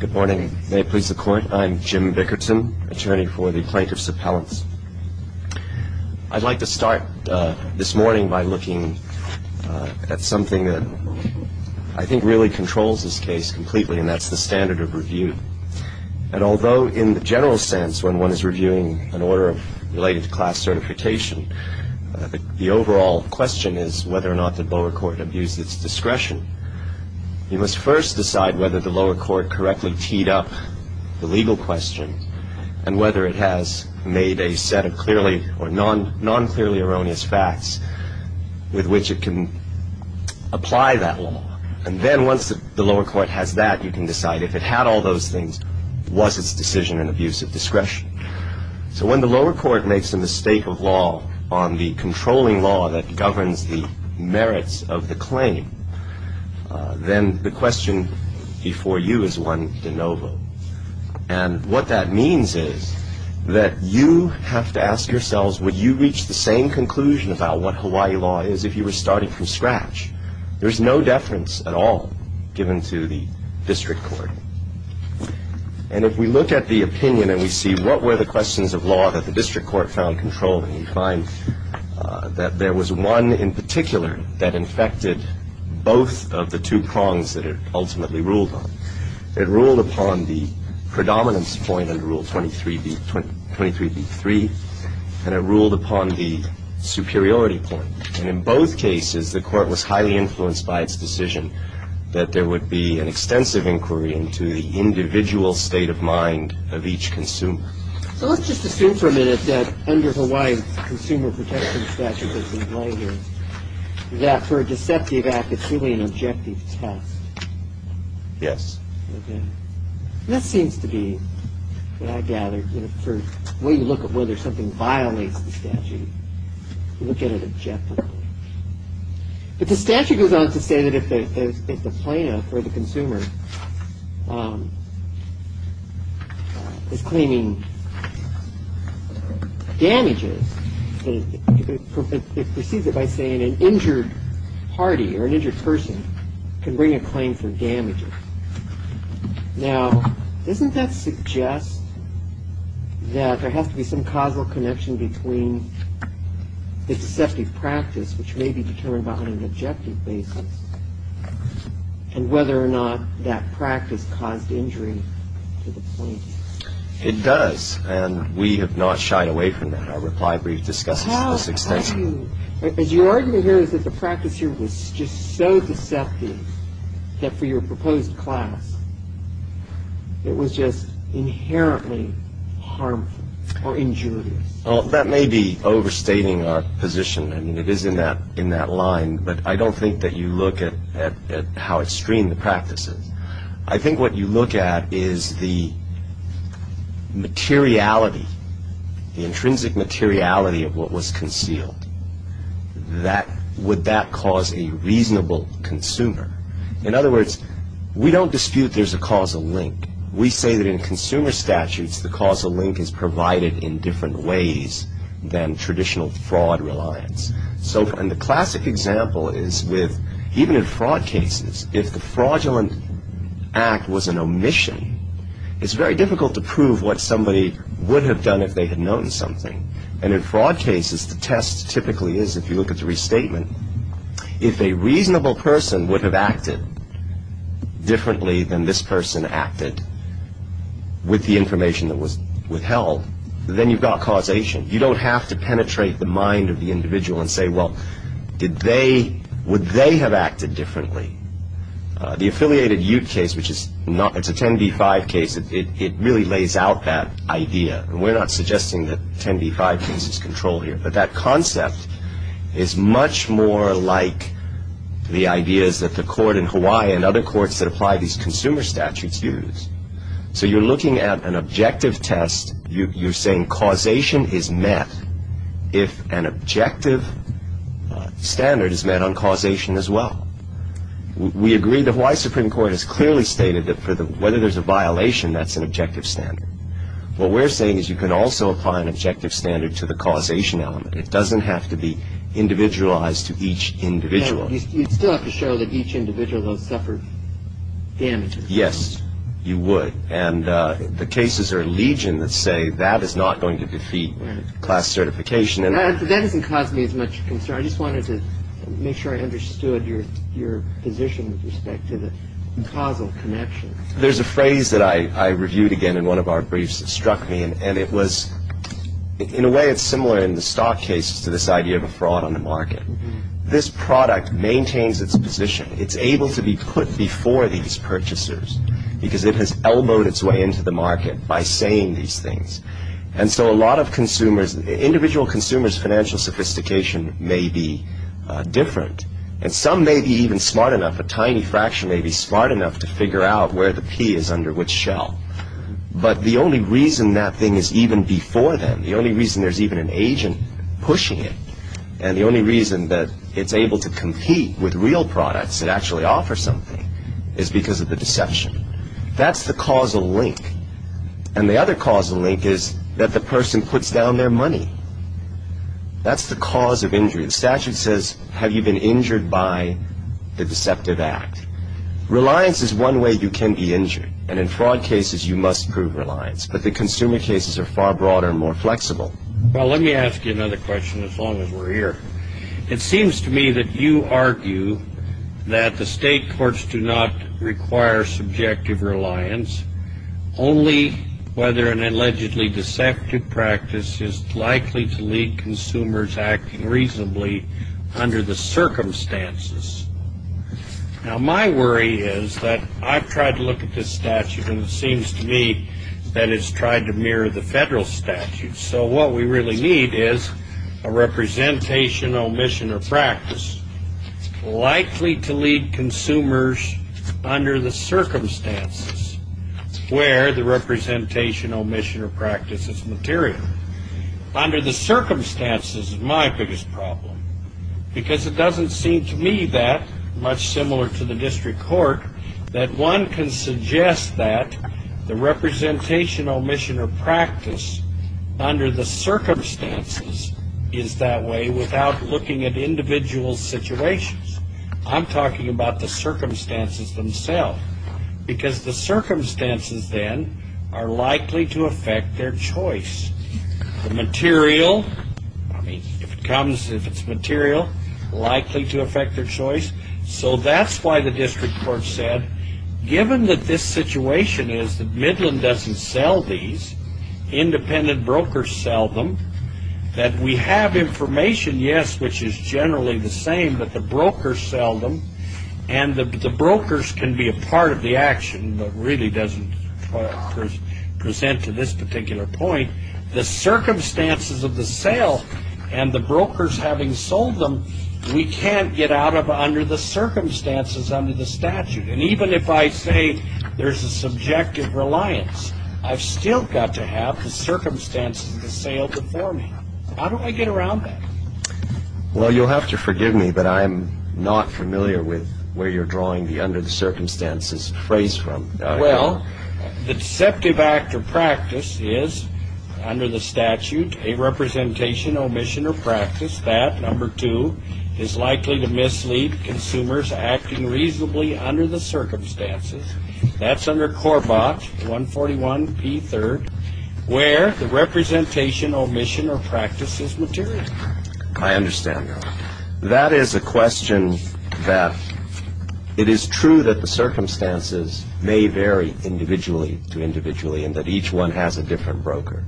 Good morning. May it please the Court. I'm Jim Bickerton, attorney for the Plaintiffs' Appellants. I'd like to start this morning by looking at something that I think really controls this case completely, and that's the standard of review. And although in the general sense, when one is reviewing an order related to class certification, the overall question is whether or not the lower court abuses its discretion. You must first decide whether the lower court correctly teed up the legal question, and whether it has made a set of clearly or non-clearly erroneous facts with which it can apply that law. And then once the lower court has that, you can decide if it had all those things, was its decision an abuse of discretion. So when the lower court makes a mistake of law on the controlling law that governs the merits of the claim, then the question before you is one de novo. And what that means is that you have to ask yourselves, would you reach the same conclusion about what Hawaii law is if you were starting from scratch? There's no deference at all given to the district court. And if we look at the opinion and we see what were the questions of law that the district court found controlling, we find that there was one in particular that infected both of the two prongs that it ultimately ruled on. It ruled upon the predominance point under Rule 23b3, and it ruled upon the superiority point. And in both cases, the court was highly influenced by its decision that there would be an extensive inquiry into the individual state of mind of each consumer. So let's just assume for a minute that under Hawaii's consumer protection statute that's in play here, that for a deceptive act, it's really an objective test. Yes. Okay. And that seems to be what I gather, you know, for the way you look at whether something violates the statute, you look at it objectively. But the statute goes on to say that if the plaintiff or the consumer is claiming damages, it proceeds it by saying an injured party or an injured person can bring a claim for damages. Now, doesn't that suggest that there has to be some causal connection between the deceptive practice, which may be determined on an objective basis, and whether or not that practice caused injury to the plaintiff? It does. And we have not shied away from that. Our reply brief discusses it to this extent. As your argument here is that the practice here was just so deceptive that for your proposed class, it was just inherently harmful or injurious. Well, that may be overstating our position. I mean, it is in that line. But I don't think that you look at how extreme the practice is. I think what you look at is the materiality, the intrinsic materiality of what was concealed. Would that cause a reasonable consumer? In other words, we don't dispute there's a causal link. We say that in consumer statutes, the causal link is provided in different ways than traditional fraud reliance. And the classic example is with even in fraud cases, if the fraudulent act was an omission, it's very difficult to prove what somebody would have done if they had known something. And in fraud cases, the test typically is, if you look at the restatement, if a reasonable person would have acted differently than this person acted with the information that was withheld, then you've got causation. You don't have to penetrate the mind of the individual and say, well, would they have acted differently? The affiliated Ute case, which is a 10b-5 case, it really lays out that idea. And we're not suggesting that 10b-5 loses control here. But that concept is much more like the ideas that the court in Hawaii and other courts that apply these consumer statutes use. So you're looking at an objective test. You're saying causation is met if an objective standard is met on causation as well. We agree the Hawaii Supreme Court has clearly stated that whether there's a violation, that's an objective standard. What we're saying is you can also apply an objective standard to the causation element. It doesn't have to be individualized to each individual. You'd still have to show that each individual has suffered damage. Yes, you would. And the cases are legion that say that is not going to defeat class certification. That doesn't cause me as much concern. I just wanted to make sure I understood your position with respect to the causal connection. There's a phrase that I reviewed again in one of our briefs that struck me, and it was in a way it's similar in the stock cases to this idea of a fraud on the market. This product maintains its position. It's able to be put before these purchasers because it has elbowed its way into the market by saying these things. And so a lot of consumers, individual consumers' financial sophistication may be different, and some may be even smart enough, a tiny fraction may be smart enough to figure out where the P is under which shell. But the only reason that thing is even before them, the only reason there's even an agent pushing it, and the only reason that it's able to compete with real products that actually offer something is because of the deception. That's the causal link. And the other causal link is that the person puts down their money. That's the cause of injury. The statute says have you been injured by the deceptive act. Reliance is one way you can be injured, and in fraud cases you must prove reliance. But the consumer cases are far broader and more flexible. Well, let me ask you another question as long as we're here. It seems to me that you argue that the state courts do not require subjective reliance, only whether an allegedly deceptive practice is likely to lead consumers acting reasonably under the circumstances. Now, my worry is that I've tried to look at this statute, and it seems to me that it's tried to mirror the federal statute. So what we really need is a representation, omission, or practice likely to lead consumers under the circumstances where the representation, omission, or practice is material. Under the circumstances is my biggest problem because it doesn't seem to me that much similar to the district court that one can suggest that the representation, omission, or practice under the circumstances is that way without looking at individual situations. I'm talking about the circumstances themselves because the circumstances then are likely to affect their choice. The material, I mean, if it comes, if it's material, likely to affect their choice. So that's why the district court said given that this situation is that Midland doesn't sell these, independent brokers sell them, that we have information, yes, which is generally the same, but the brokers sell them, and the brokers can be a part of the action but really doesn't present to this particular point. The circumstances of the sale and the brokers having sold them, we can't get out of under the circumstances under the statute. And even if I say there's a subjective reliance, I've still got to have the circumstances of the sale before me. How do I get around that? Well, you'll have to forgive me, but I'm not familiar with where you're drawing the under the circumstances phrase from. Well, the deceptive act or practice is, under the statute, a representation, omission, or practice. That, number two, is likely to mislead consumers acting reasonably under the circumstances. That's under Corbott, 141P3, where the representation, omission, or practice is material. I understand that. That is a question that it is true that the circumstances may vary individually to individually and that each one has a different broker,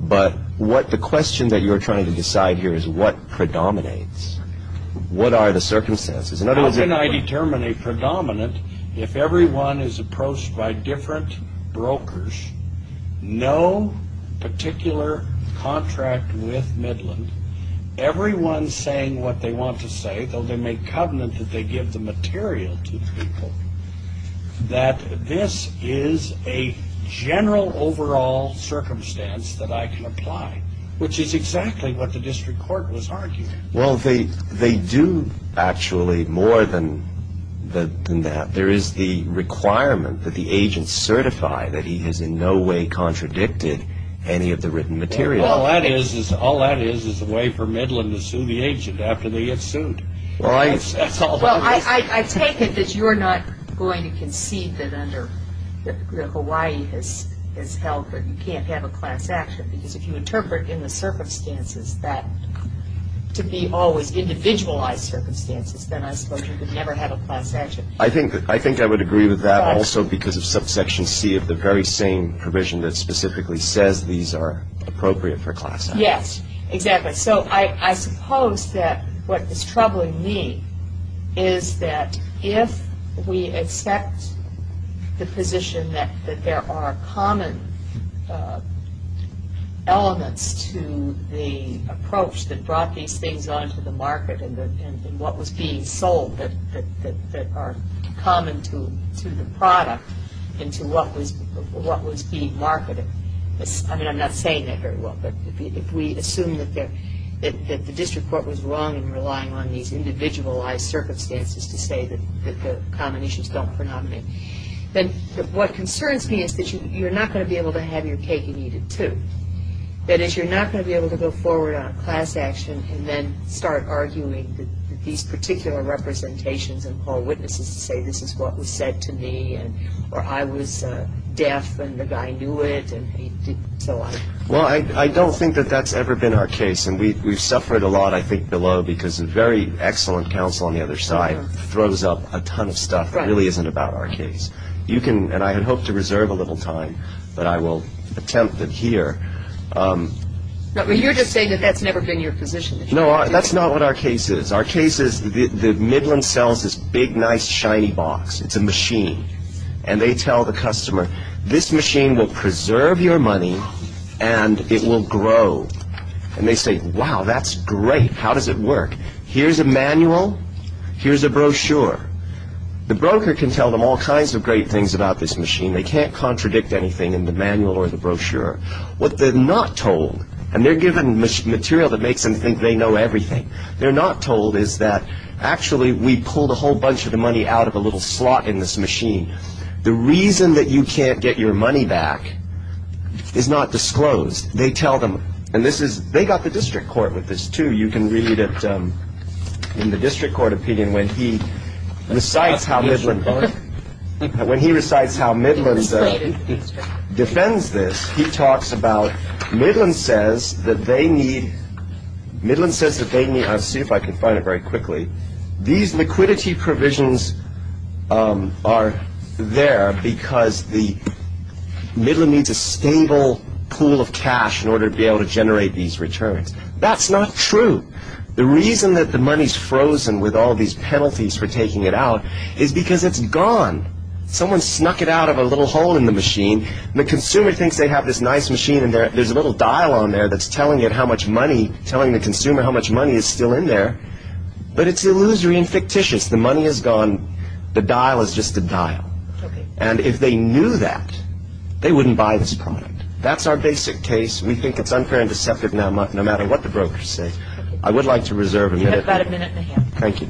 but what the question that you're trying to decide here is what predominates? What are the circumstances? How can I determine a predominant if everyone is approached by different brokers, no particular contract with Midland, everyone saying what they want to say, though they make covenant that they give the material to the people, that this is a general overall circumstance that I can apply, which is exactly what the district court was arguing. Well, they do, actually, more than that. There is the requirement that the agent certify that he has in no way contradicted any of the written material. All that is is a way for Midland to sue the agent after they get sued. Well, I take it that you're not going to concede that under the Hawaii has held that you can't have a class action because if you interpret in the circumstances that to be always individualized circumstances, then I suppose you could never have a class action. I think I would agree with that also because of subsection C of the very same provision that specifically says these are appropriate for class action. Yes, exactly. So I suppose that what is troubling me is that if we accept the position that there are common elements to the approach that brought these things onto the market and what was being sold that are common to the product into what was being marketed. I mean, I'm not saying that very well, but if we assume that the district court was wrong in relying on these individualized circumstances to say that the combinations don't phenomenate, then what concerns me is that you're not going to be able to have your cake and eat it, too. That is, you're not going to be able to go forward on class action and then start arguing that these particular representations and call witnesses to say this is what was said to me or I was deaf and the guy knew it. Well, I don't think that that's ever been our case, and we've suffered a lot, I think, below because a very excellent counsel on the other side throws up a ton of stuff that really isn't about our case. And I hope to reserve a little time, but I will attempt that here. You're just saying that that's never been your position. No, that's not what our case is. Our case is that Midland sells this big, nice, shiny box. It's a machine, and they tell the customer, this machine will preserve your money and it will grow. And they say, wow, that's great. How does it work? Here's a manual. Here's a brochure. The broker can tell them all kinds of great things about this machine. They can't contradict anything in the manual or the brochure. What they're not told, and they're given material that makes them think they know everything, they're not told is that actually we pulled a whole bunch of the money out of a little slot in this machine. The reason that you can't get your money back is not disclosed. They tell them, and they got the district court with this, too. You can read it in the district court opinion when he recites how Midland defends this. He talks about Midland says that they need – I'll see if I can find it very quickly. These liquidity provisions are there because the – Midland needs a stable pool of cash in order to be able to generate these returns. That's not true. The reason that the money's frozen with all these penalties for taking it out is because it's gone. Someone snuck it out of a little hole in the machine. The consumer thinks they have this nice machine, and there's a little dial on there that's telling it how much money – telling the consumer how much money is still in there. But it's illusory and fictitious. The money is gone. The dial is just a dial. And if they knew that, they wouldn't buy this product. That's our basic case. We think it's unfair and deceptive no matter what the broker says. I would like to reserve a minute. You have about a minute and a half. Thank you.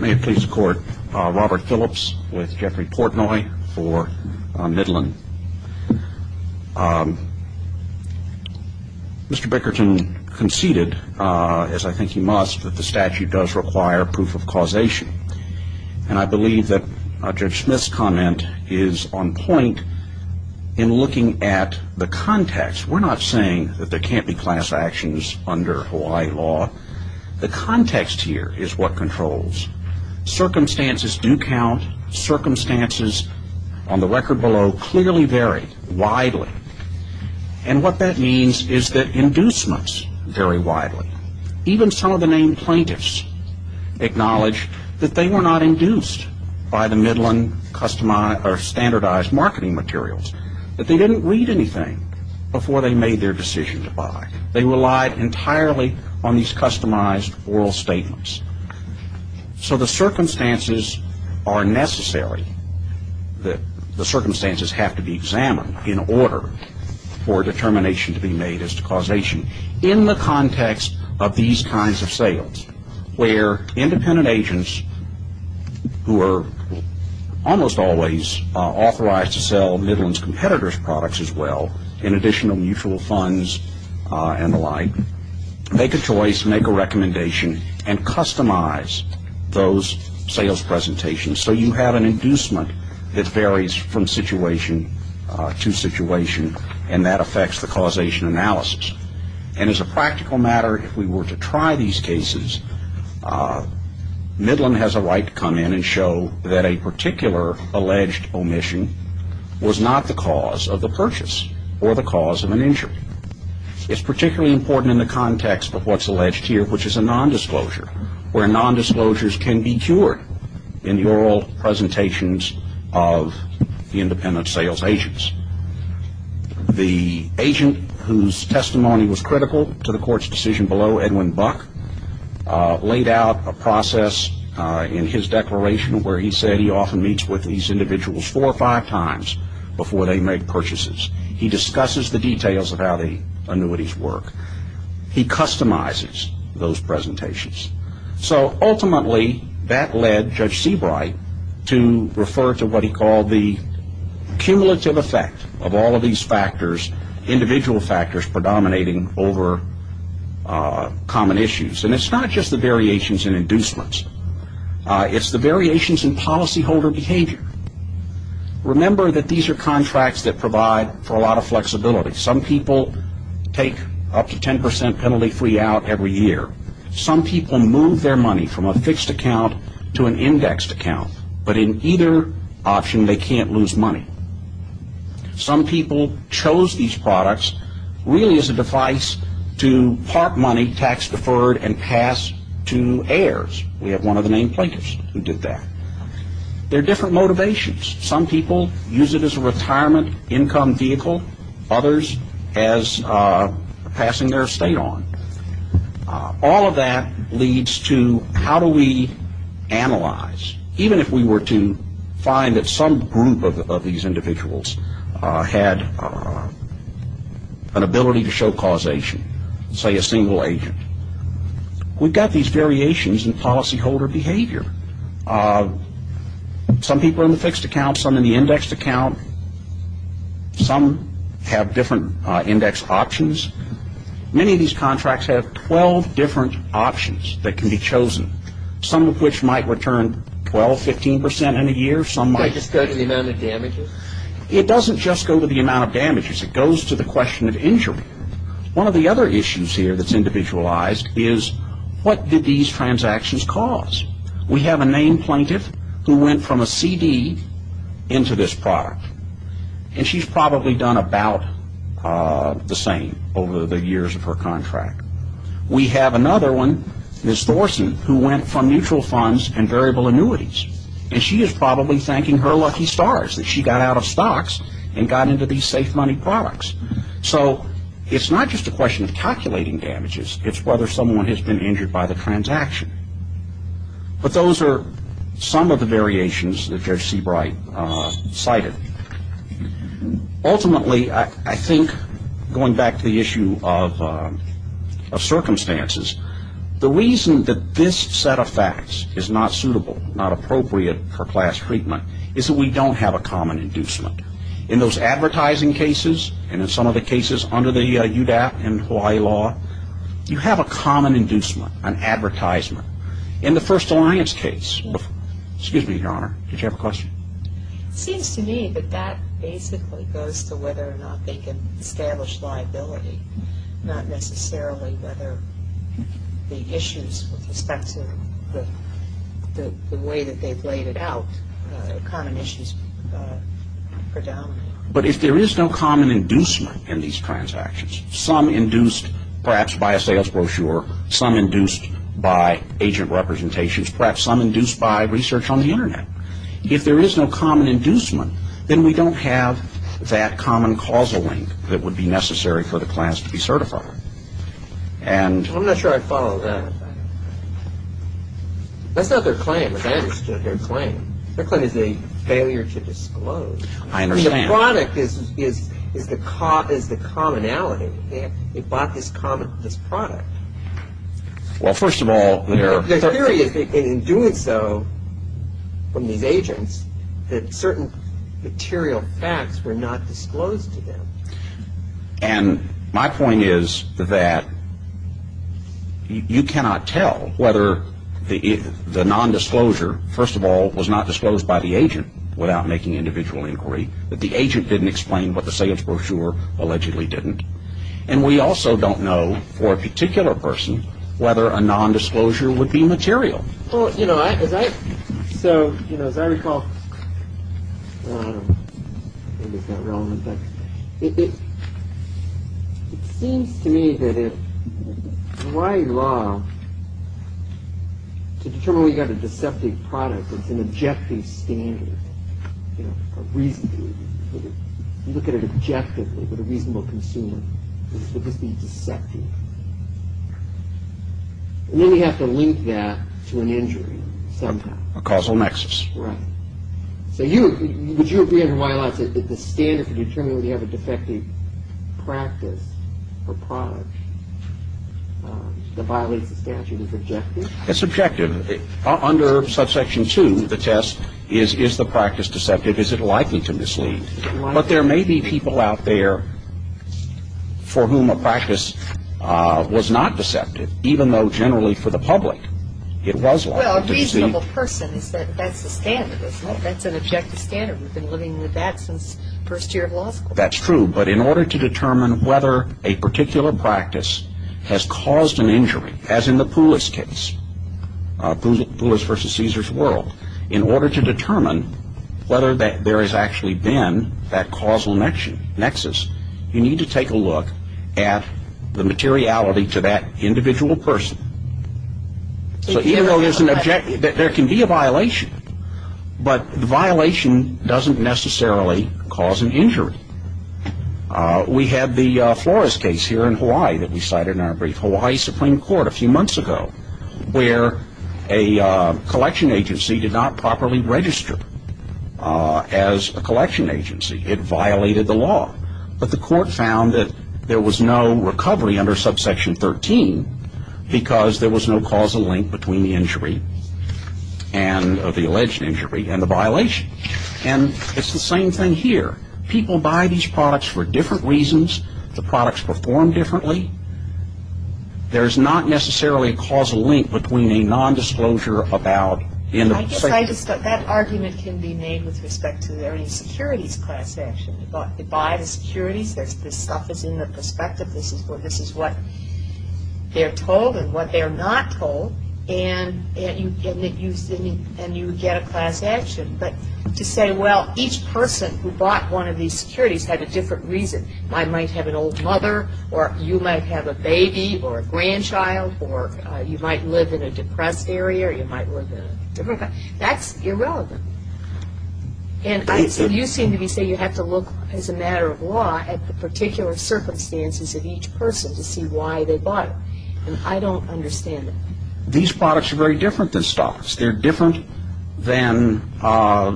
May it please the Court. Robert Phillips with Jeffrey Portnoy for Midland. Mr. Bickerton conceded, as I think he must, that the statute does require proof of causation. And I believe that Judge Smith's comment is on point in looking at the context. We're not saying that there can't be class actions under Hawaii law. The context here is what controls. Circumstances do count. Circumstances on the record below clearly vary widely. And what that means is that inducements vary widely. Even some of the named plaintiffs acknowledge that they were not induced by the Midland standardized marketing materials, that they didn't read anything before they made their decision to buy. They relied entirely on these customized oral statements. So the circumstances are necessary. The circumstances have to be examined in order for determination to be made as to causation. In the context of these kinds of sales, where independent agents who are almost always authorized to sell Midland's competitors' products as well, in addition to mutual funds and the like, make a choice, make a recommendation, and customize those sales presentations so you have an inducement that varies from situation to situation, and that affects the causation analysis. And as a practical matter, if we were to try these cases, Midland has a right to come in and show that a particular alleged omission was not the cause of the purchase or the cause of an injury. It's particularly important in the context of what's alleged here, which is a nondisclosure, where nondisclosures can be cured in the oral presentations of independent sales agents. The agent whose testimony was critical to the court's decision below, Edwin Buck, laid out a process in his declaration where he said he often meets with these individuals four or five times before they make purchases. He discusses the details of how the annuities work. He customizes those presentations. So ultimately, that led Judge Seabright to refer to what he called the cumulative effect of all of these factors, individual factors predominating over common issues. And it's not just the variations in inducements. It's the variations in policyholder behavior. Remember that these are contracts that provide for a lot of flexibility. Some people take up to 10% penalty-free out every year. Some people move their money from a fixed account to an indexed account. But in either option, they can't lose money. Some people chose these products really as a device to part money tax-deferred and pass to heirs. We have one of the named plaintiffs who did that. There are different motivations. Some people use it as a retirement income vehicle. Others as passing their estate on. All of that leads to how do we analyze. Even if we were to find that some group of these individuals had an ability to show causation, say a single agent, we've got these variations in policyholder behavior. Some people are in the fixed account. Some in the indexed account. Some have different index options. Many of these contracts have 12 different options that can be chosen, some of which might return 12, 15% in a year. Some might just go to the amount of damages. It doesn't just go to the amount of damages. It goes to the question of injury. One of the other issues here that's individualized is what did these transactions cause? We have a named plaintiff who went from a CD into this product, and she's probably done about the same over the years of her contract. We have another one, Ms. Thorson, who went from mutual funds and variable annuities, and she is probably thanking her lucky stars that she got out of stocks and got into these safe money products. So it's not just a question of calculating damages. It's whether someone has been injured by the transaction. But those are some of the variations that Judge Seabright cited. Ultimately, I think, going back to the issue of circumstances, the reason that this set of facts is not suitable, not appropriate for class treatment, is that we don't have a common inducement. In those advertising cases and in some of the cases under the UDAP and Hawaii law, you have a common inducement, an advertisement. In the First Alliance case, excuse me, Your Honor, did you have a question? It seems to me that that basically goes to whether or not they can establish liability, not necessarily whether the issues with respect to the way that they've laid it out, common issues predominate. But if there is no common inducement in these transactions, some induced perhaps by a sales brochure, some induced by agent representations, perhaps some induced by research on the Internet, if there is no common inducement, then we don't have that common causal link that would be necessary for the class to be certified. I'm not sure I follow that. That's not their claim, as I understood their claim. Their claim is a failure to disclose. I understand. The product is the commonality. They bought this product. Well, first of all, their theory is that in doing so from these agents, that certain material facts were not disclosed to them. And my point is that you cannot tell whether the nondisclosure, first of all, was not disclosed by the agent without making individual inquiry, that the agent didn't explain what the sales brochure allegedly didn't. And we also don't know for a particular person whether a nondisclosure would be material. So, as I recall, it seems to me that if Hawaii law, to determine whether you've got a deceptive product, it's an objective standard, a reason. If you look at it objectively, with a reasonable consumer, it would just be deceptive. And then you have to link that to an injury somehow. A causal nexus. Right. So would you agree in Hawaii law that the standard for determining whether you have a defective practice or product that violates the statute is objective? It's objective. Under Subsection 2, the test is, is the practice deceptive? Is it likely to mislead? But there may be people out there for whom a practice was not deceptive, even though generally for the public it was likely. Well, a reasonable person said that's the standard, isn't it? That's an objective standard. We've been living with that since first year of law school. That's true. But in order to determine whether a particular practice has caused an injury, as in the Poulos case, Poulos versus Cesar's world, in order to determine whether there has actually been that causal nexus, you need to take a look at the materiality to that individual person. So even though there can be a violation, but the violation doesn't necessarily cause an injury. We have the Flores case here in Hawaii that we cited in our brief. a few months ago where a collection agency did not properly register as a collection agency. It violated the law. But the court found that there was no recovery under Subsection 13 because there was no causal link between the injury and the alleged injury and the violation. And it's the same thing here. People buy these products for different reasons. The products perform differently. There's not necessarily a causal link between a nondisclosure about the individual. I guess that argument can be made with respect to the securities class action. They buy the securities. This stuff is in the perspective. This is what they're told and what they're not told. And you get a class action. But to say, well, each person who bought one of these securities had a different reason. I might have an old mother or you might have a baby or a grandchild or you might live in a depressed area or you might live in a different place. That's irrelevant. And so you seem to be saying you have to look, as a matter of law, at the particular circumstances of each person to see why they bought it. And I don't understand it. These products are very different than stocks. They're different than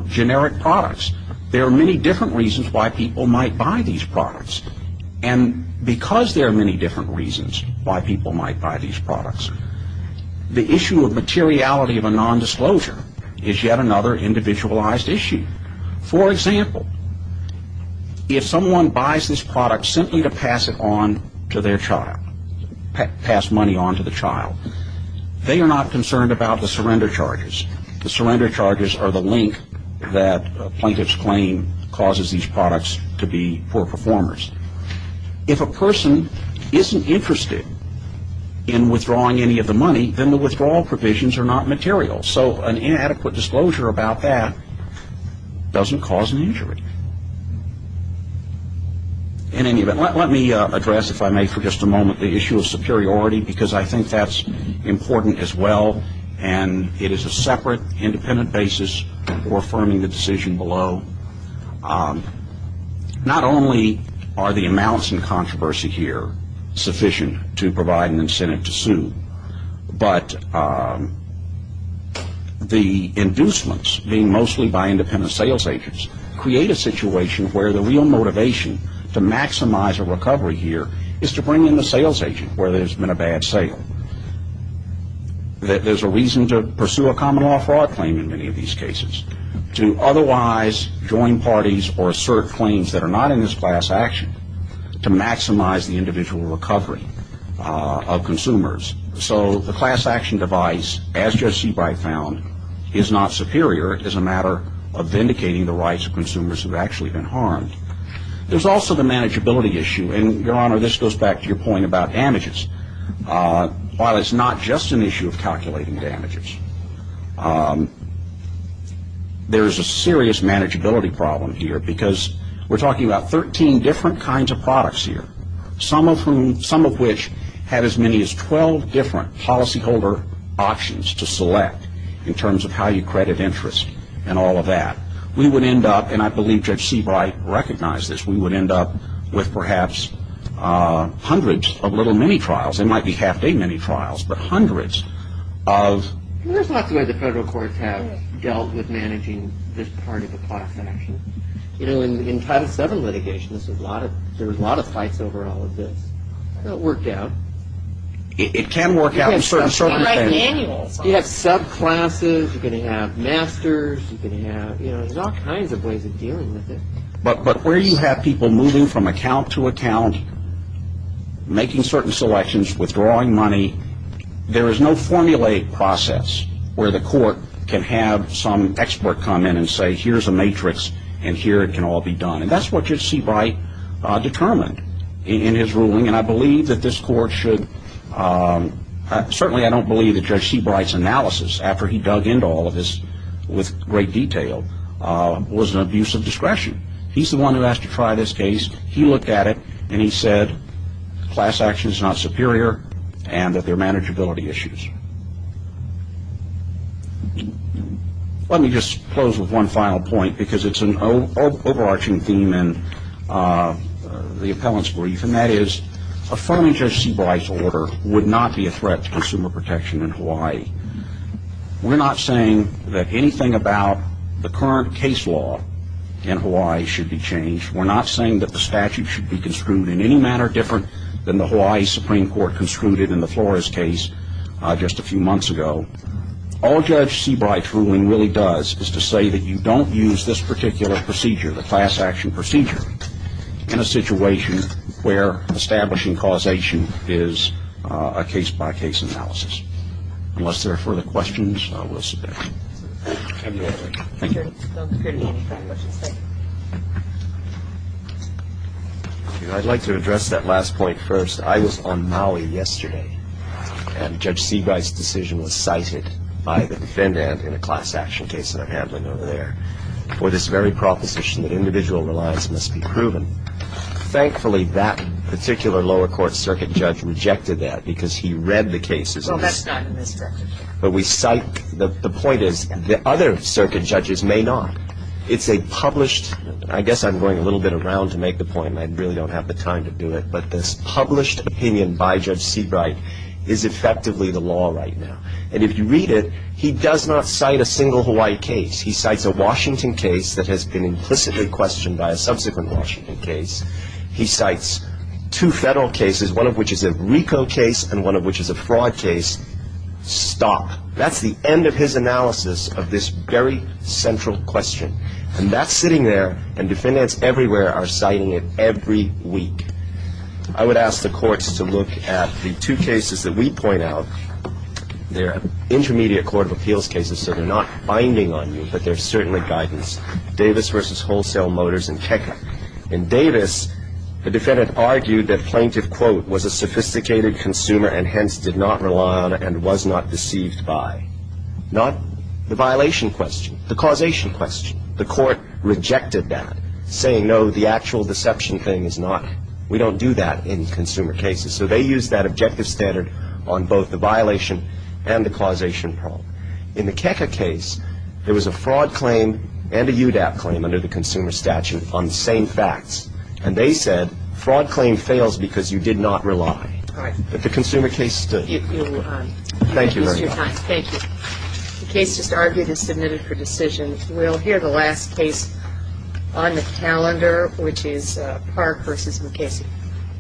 generic products. There are many different reasons why people might buy these products. And because there are many different reasons why people might buy these products, the issue of materiality of a nondisclosure is yet another individualized issue. For example, if someone buys this product simply to pass it on to their child, pass money on to the child, they are not concerned about the surrender charges. The surrender charges are the link that a plaintiff's claim causes these products to be poor performers. If a person isn't interested in withdrawing any of the money, then the withdrawal provisions are not material. So an inadequate disclosure about that doesn't cause an injury. In any event, let me address, if I may, for just a moment, the issue of superiority, because I think that's important as well, and it is a separate independent basis for affirming the decision below. Not only are the amounts in controversy here sufficient to provide an incentive to sue, but the inducements, being mostly by independent sales agents, create a situation where the real motivation to maximize a recovery here is to bring in the sales agent, where there's been a bad sale. There's a reason to pursue a common law fraud claim in many of these cases, to otherwise join parties or assert claims that are not in this class action to maximize the individual recovery of consumers. So the class action device, as Judge Seabright found, is not superior. It is a matter of vindicating the rights of consumers who have actually been harmed. There's also the manageability issue. And, Your Honor, this goes back to your point about damages. While it's not just an issue of calculating damages, there's a serious manageability problem here because we're talking about 13 different kinds of products here, some of which have as many as 12 different policyholder options to select in terms of how you credit interest and all of that. We would end up, and I believe Judge Seabright recognized this, we would end up with perhaps hundreds of little mini-trials. They might be half-day mini-trials, but hundreds of... There's lots of ways the federal courts have dealt with managing this part of the class action. You know, in Title VII litigation, there was a lot of fights over all of this. It worked out. It can work out in certain circumstances. You can write manuals. You have subclasses. You can have masters. There's all kinds of ways of dealing with it. But where you have people moving from account to account, making certain selections, withdrawing money, there is no formulaic process where the court can have some expert come in and say, here's a matrix and here it can all be done. And that's what Judge Seabright determined in his ruling, and I believe that this court should... Certainly I don't believe that Judge Seabright's analysis, after he dug into all of this with great detail, was an abuse of discretion. He's the one who asked to try this case. He looked at it, and he said class action is not superior and that there are manageability issues. Let me just close with one final point, because it's an overarching theme in the appellant's brief, and that is a phone in Judge Seabright's order would not be a threat to consumer protection in Hawaii. We're not saying that anything about the current case law in Hawaii should be changed. We're not saying that the statute should be construed in any manner different than the Hawaii Supreme Court construed in the Flores case just a few months ago. All Judge Seabright's ruling really does is to say that you don't use this particular procedure, the class action procedure, in a situation where establishing causation is a case-by-case analysis, unless there are further questions, I will sit back. Thank you. I'd like to address that last point first. I was on Maui yesterday, and Judge Seabright's decision was cited by the defendant in a class action case that I'm handling over there for this very proposition that individual reliance must be proven. Thankfully, that particular lower court circuit judge rejected that because he read the cases. Well, that's not a misdirection. But we cite the point is the other circuit judges may not. It's a published – I guess I'm going a little bit around to make the point, and I really don't have the time to do it, but this published opinion by Judge Seabright is effectively the law right now. And if you read it, he does not cite a single Hawaii case. He cites a Washington case that has been implicitly questioned by a subsequent Washington case. He cites two federal cases, one of which is a RICO case and one of which is a fraud case. Stop. That's the end of his analysis of this very central question. And that's sitting there, and defendants everywhere are citing it every week. I would ask the courts to look at the two cases that we point out. They're intermediate court of appeals cases, so they're not binding on you, but they're certainly guidance. Davis v. Wholesale Motors and Keka. In Davis, the defendant argued that plaintiff, quote, was a sophisticated consumer and hence did not rely on and was not deceived by. Not the violation question. The causation question. The court rejected that, saying, no, the actual deception thing is not – we don't do that in consumer cases. So they used that objective standard on both the violation and the causation problem. In the Keka case, there was a fraud claim and a UDAP claim under the consumer statute on the same facts. And they said, fraud claim fails because you did not rely. But the consumer case stood. Thank you very much. Thank you. The case is argued and submitted for decision. We'll hear the last case on the calendar, which is Park v. Mukasey.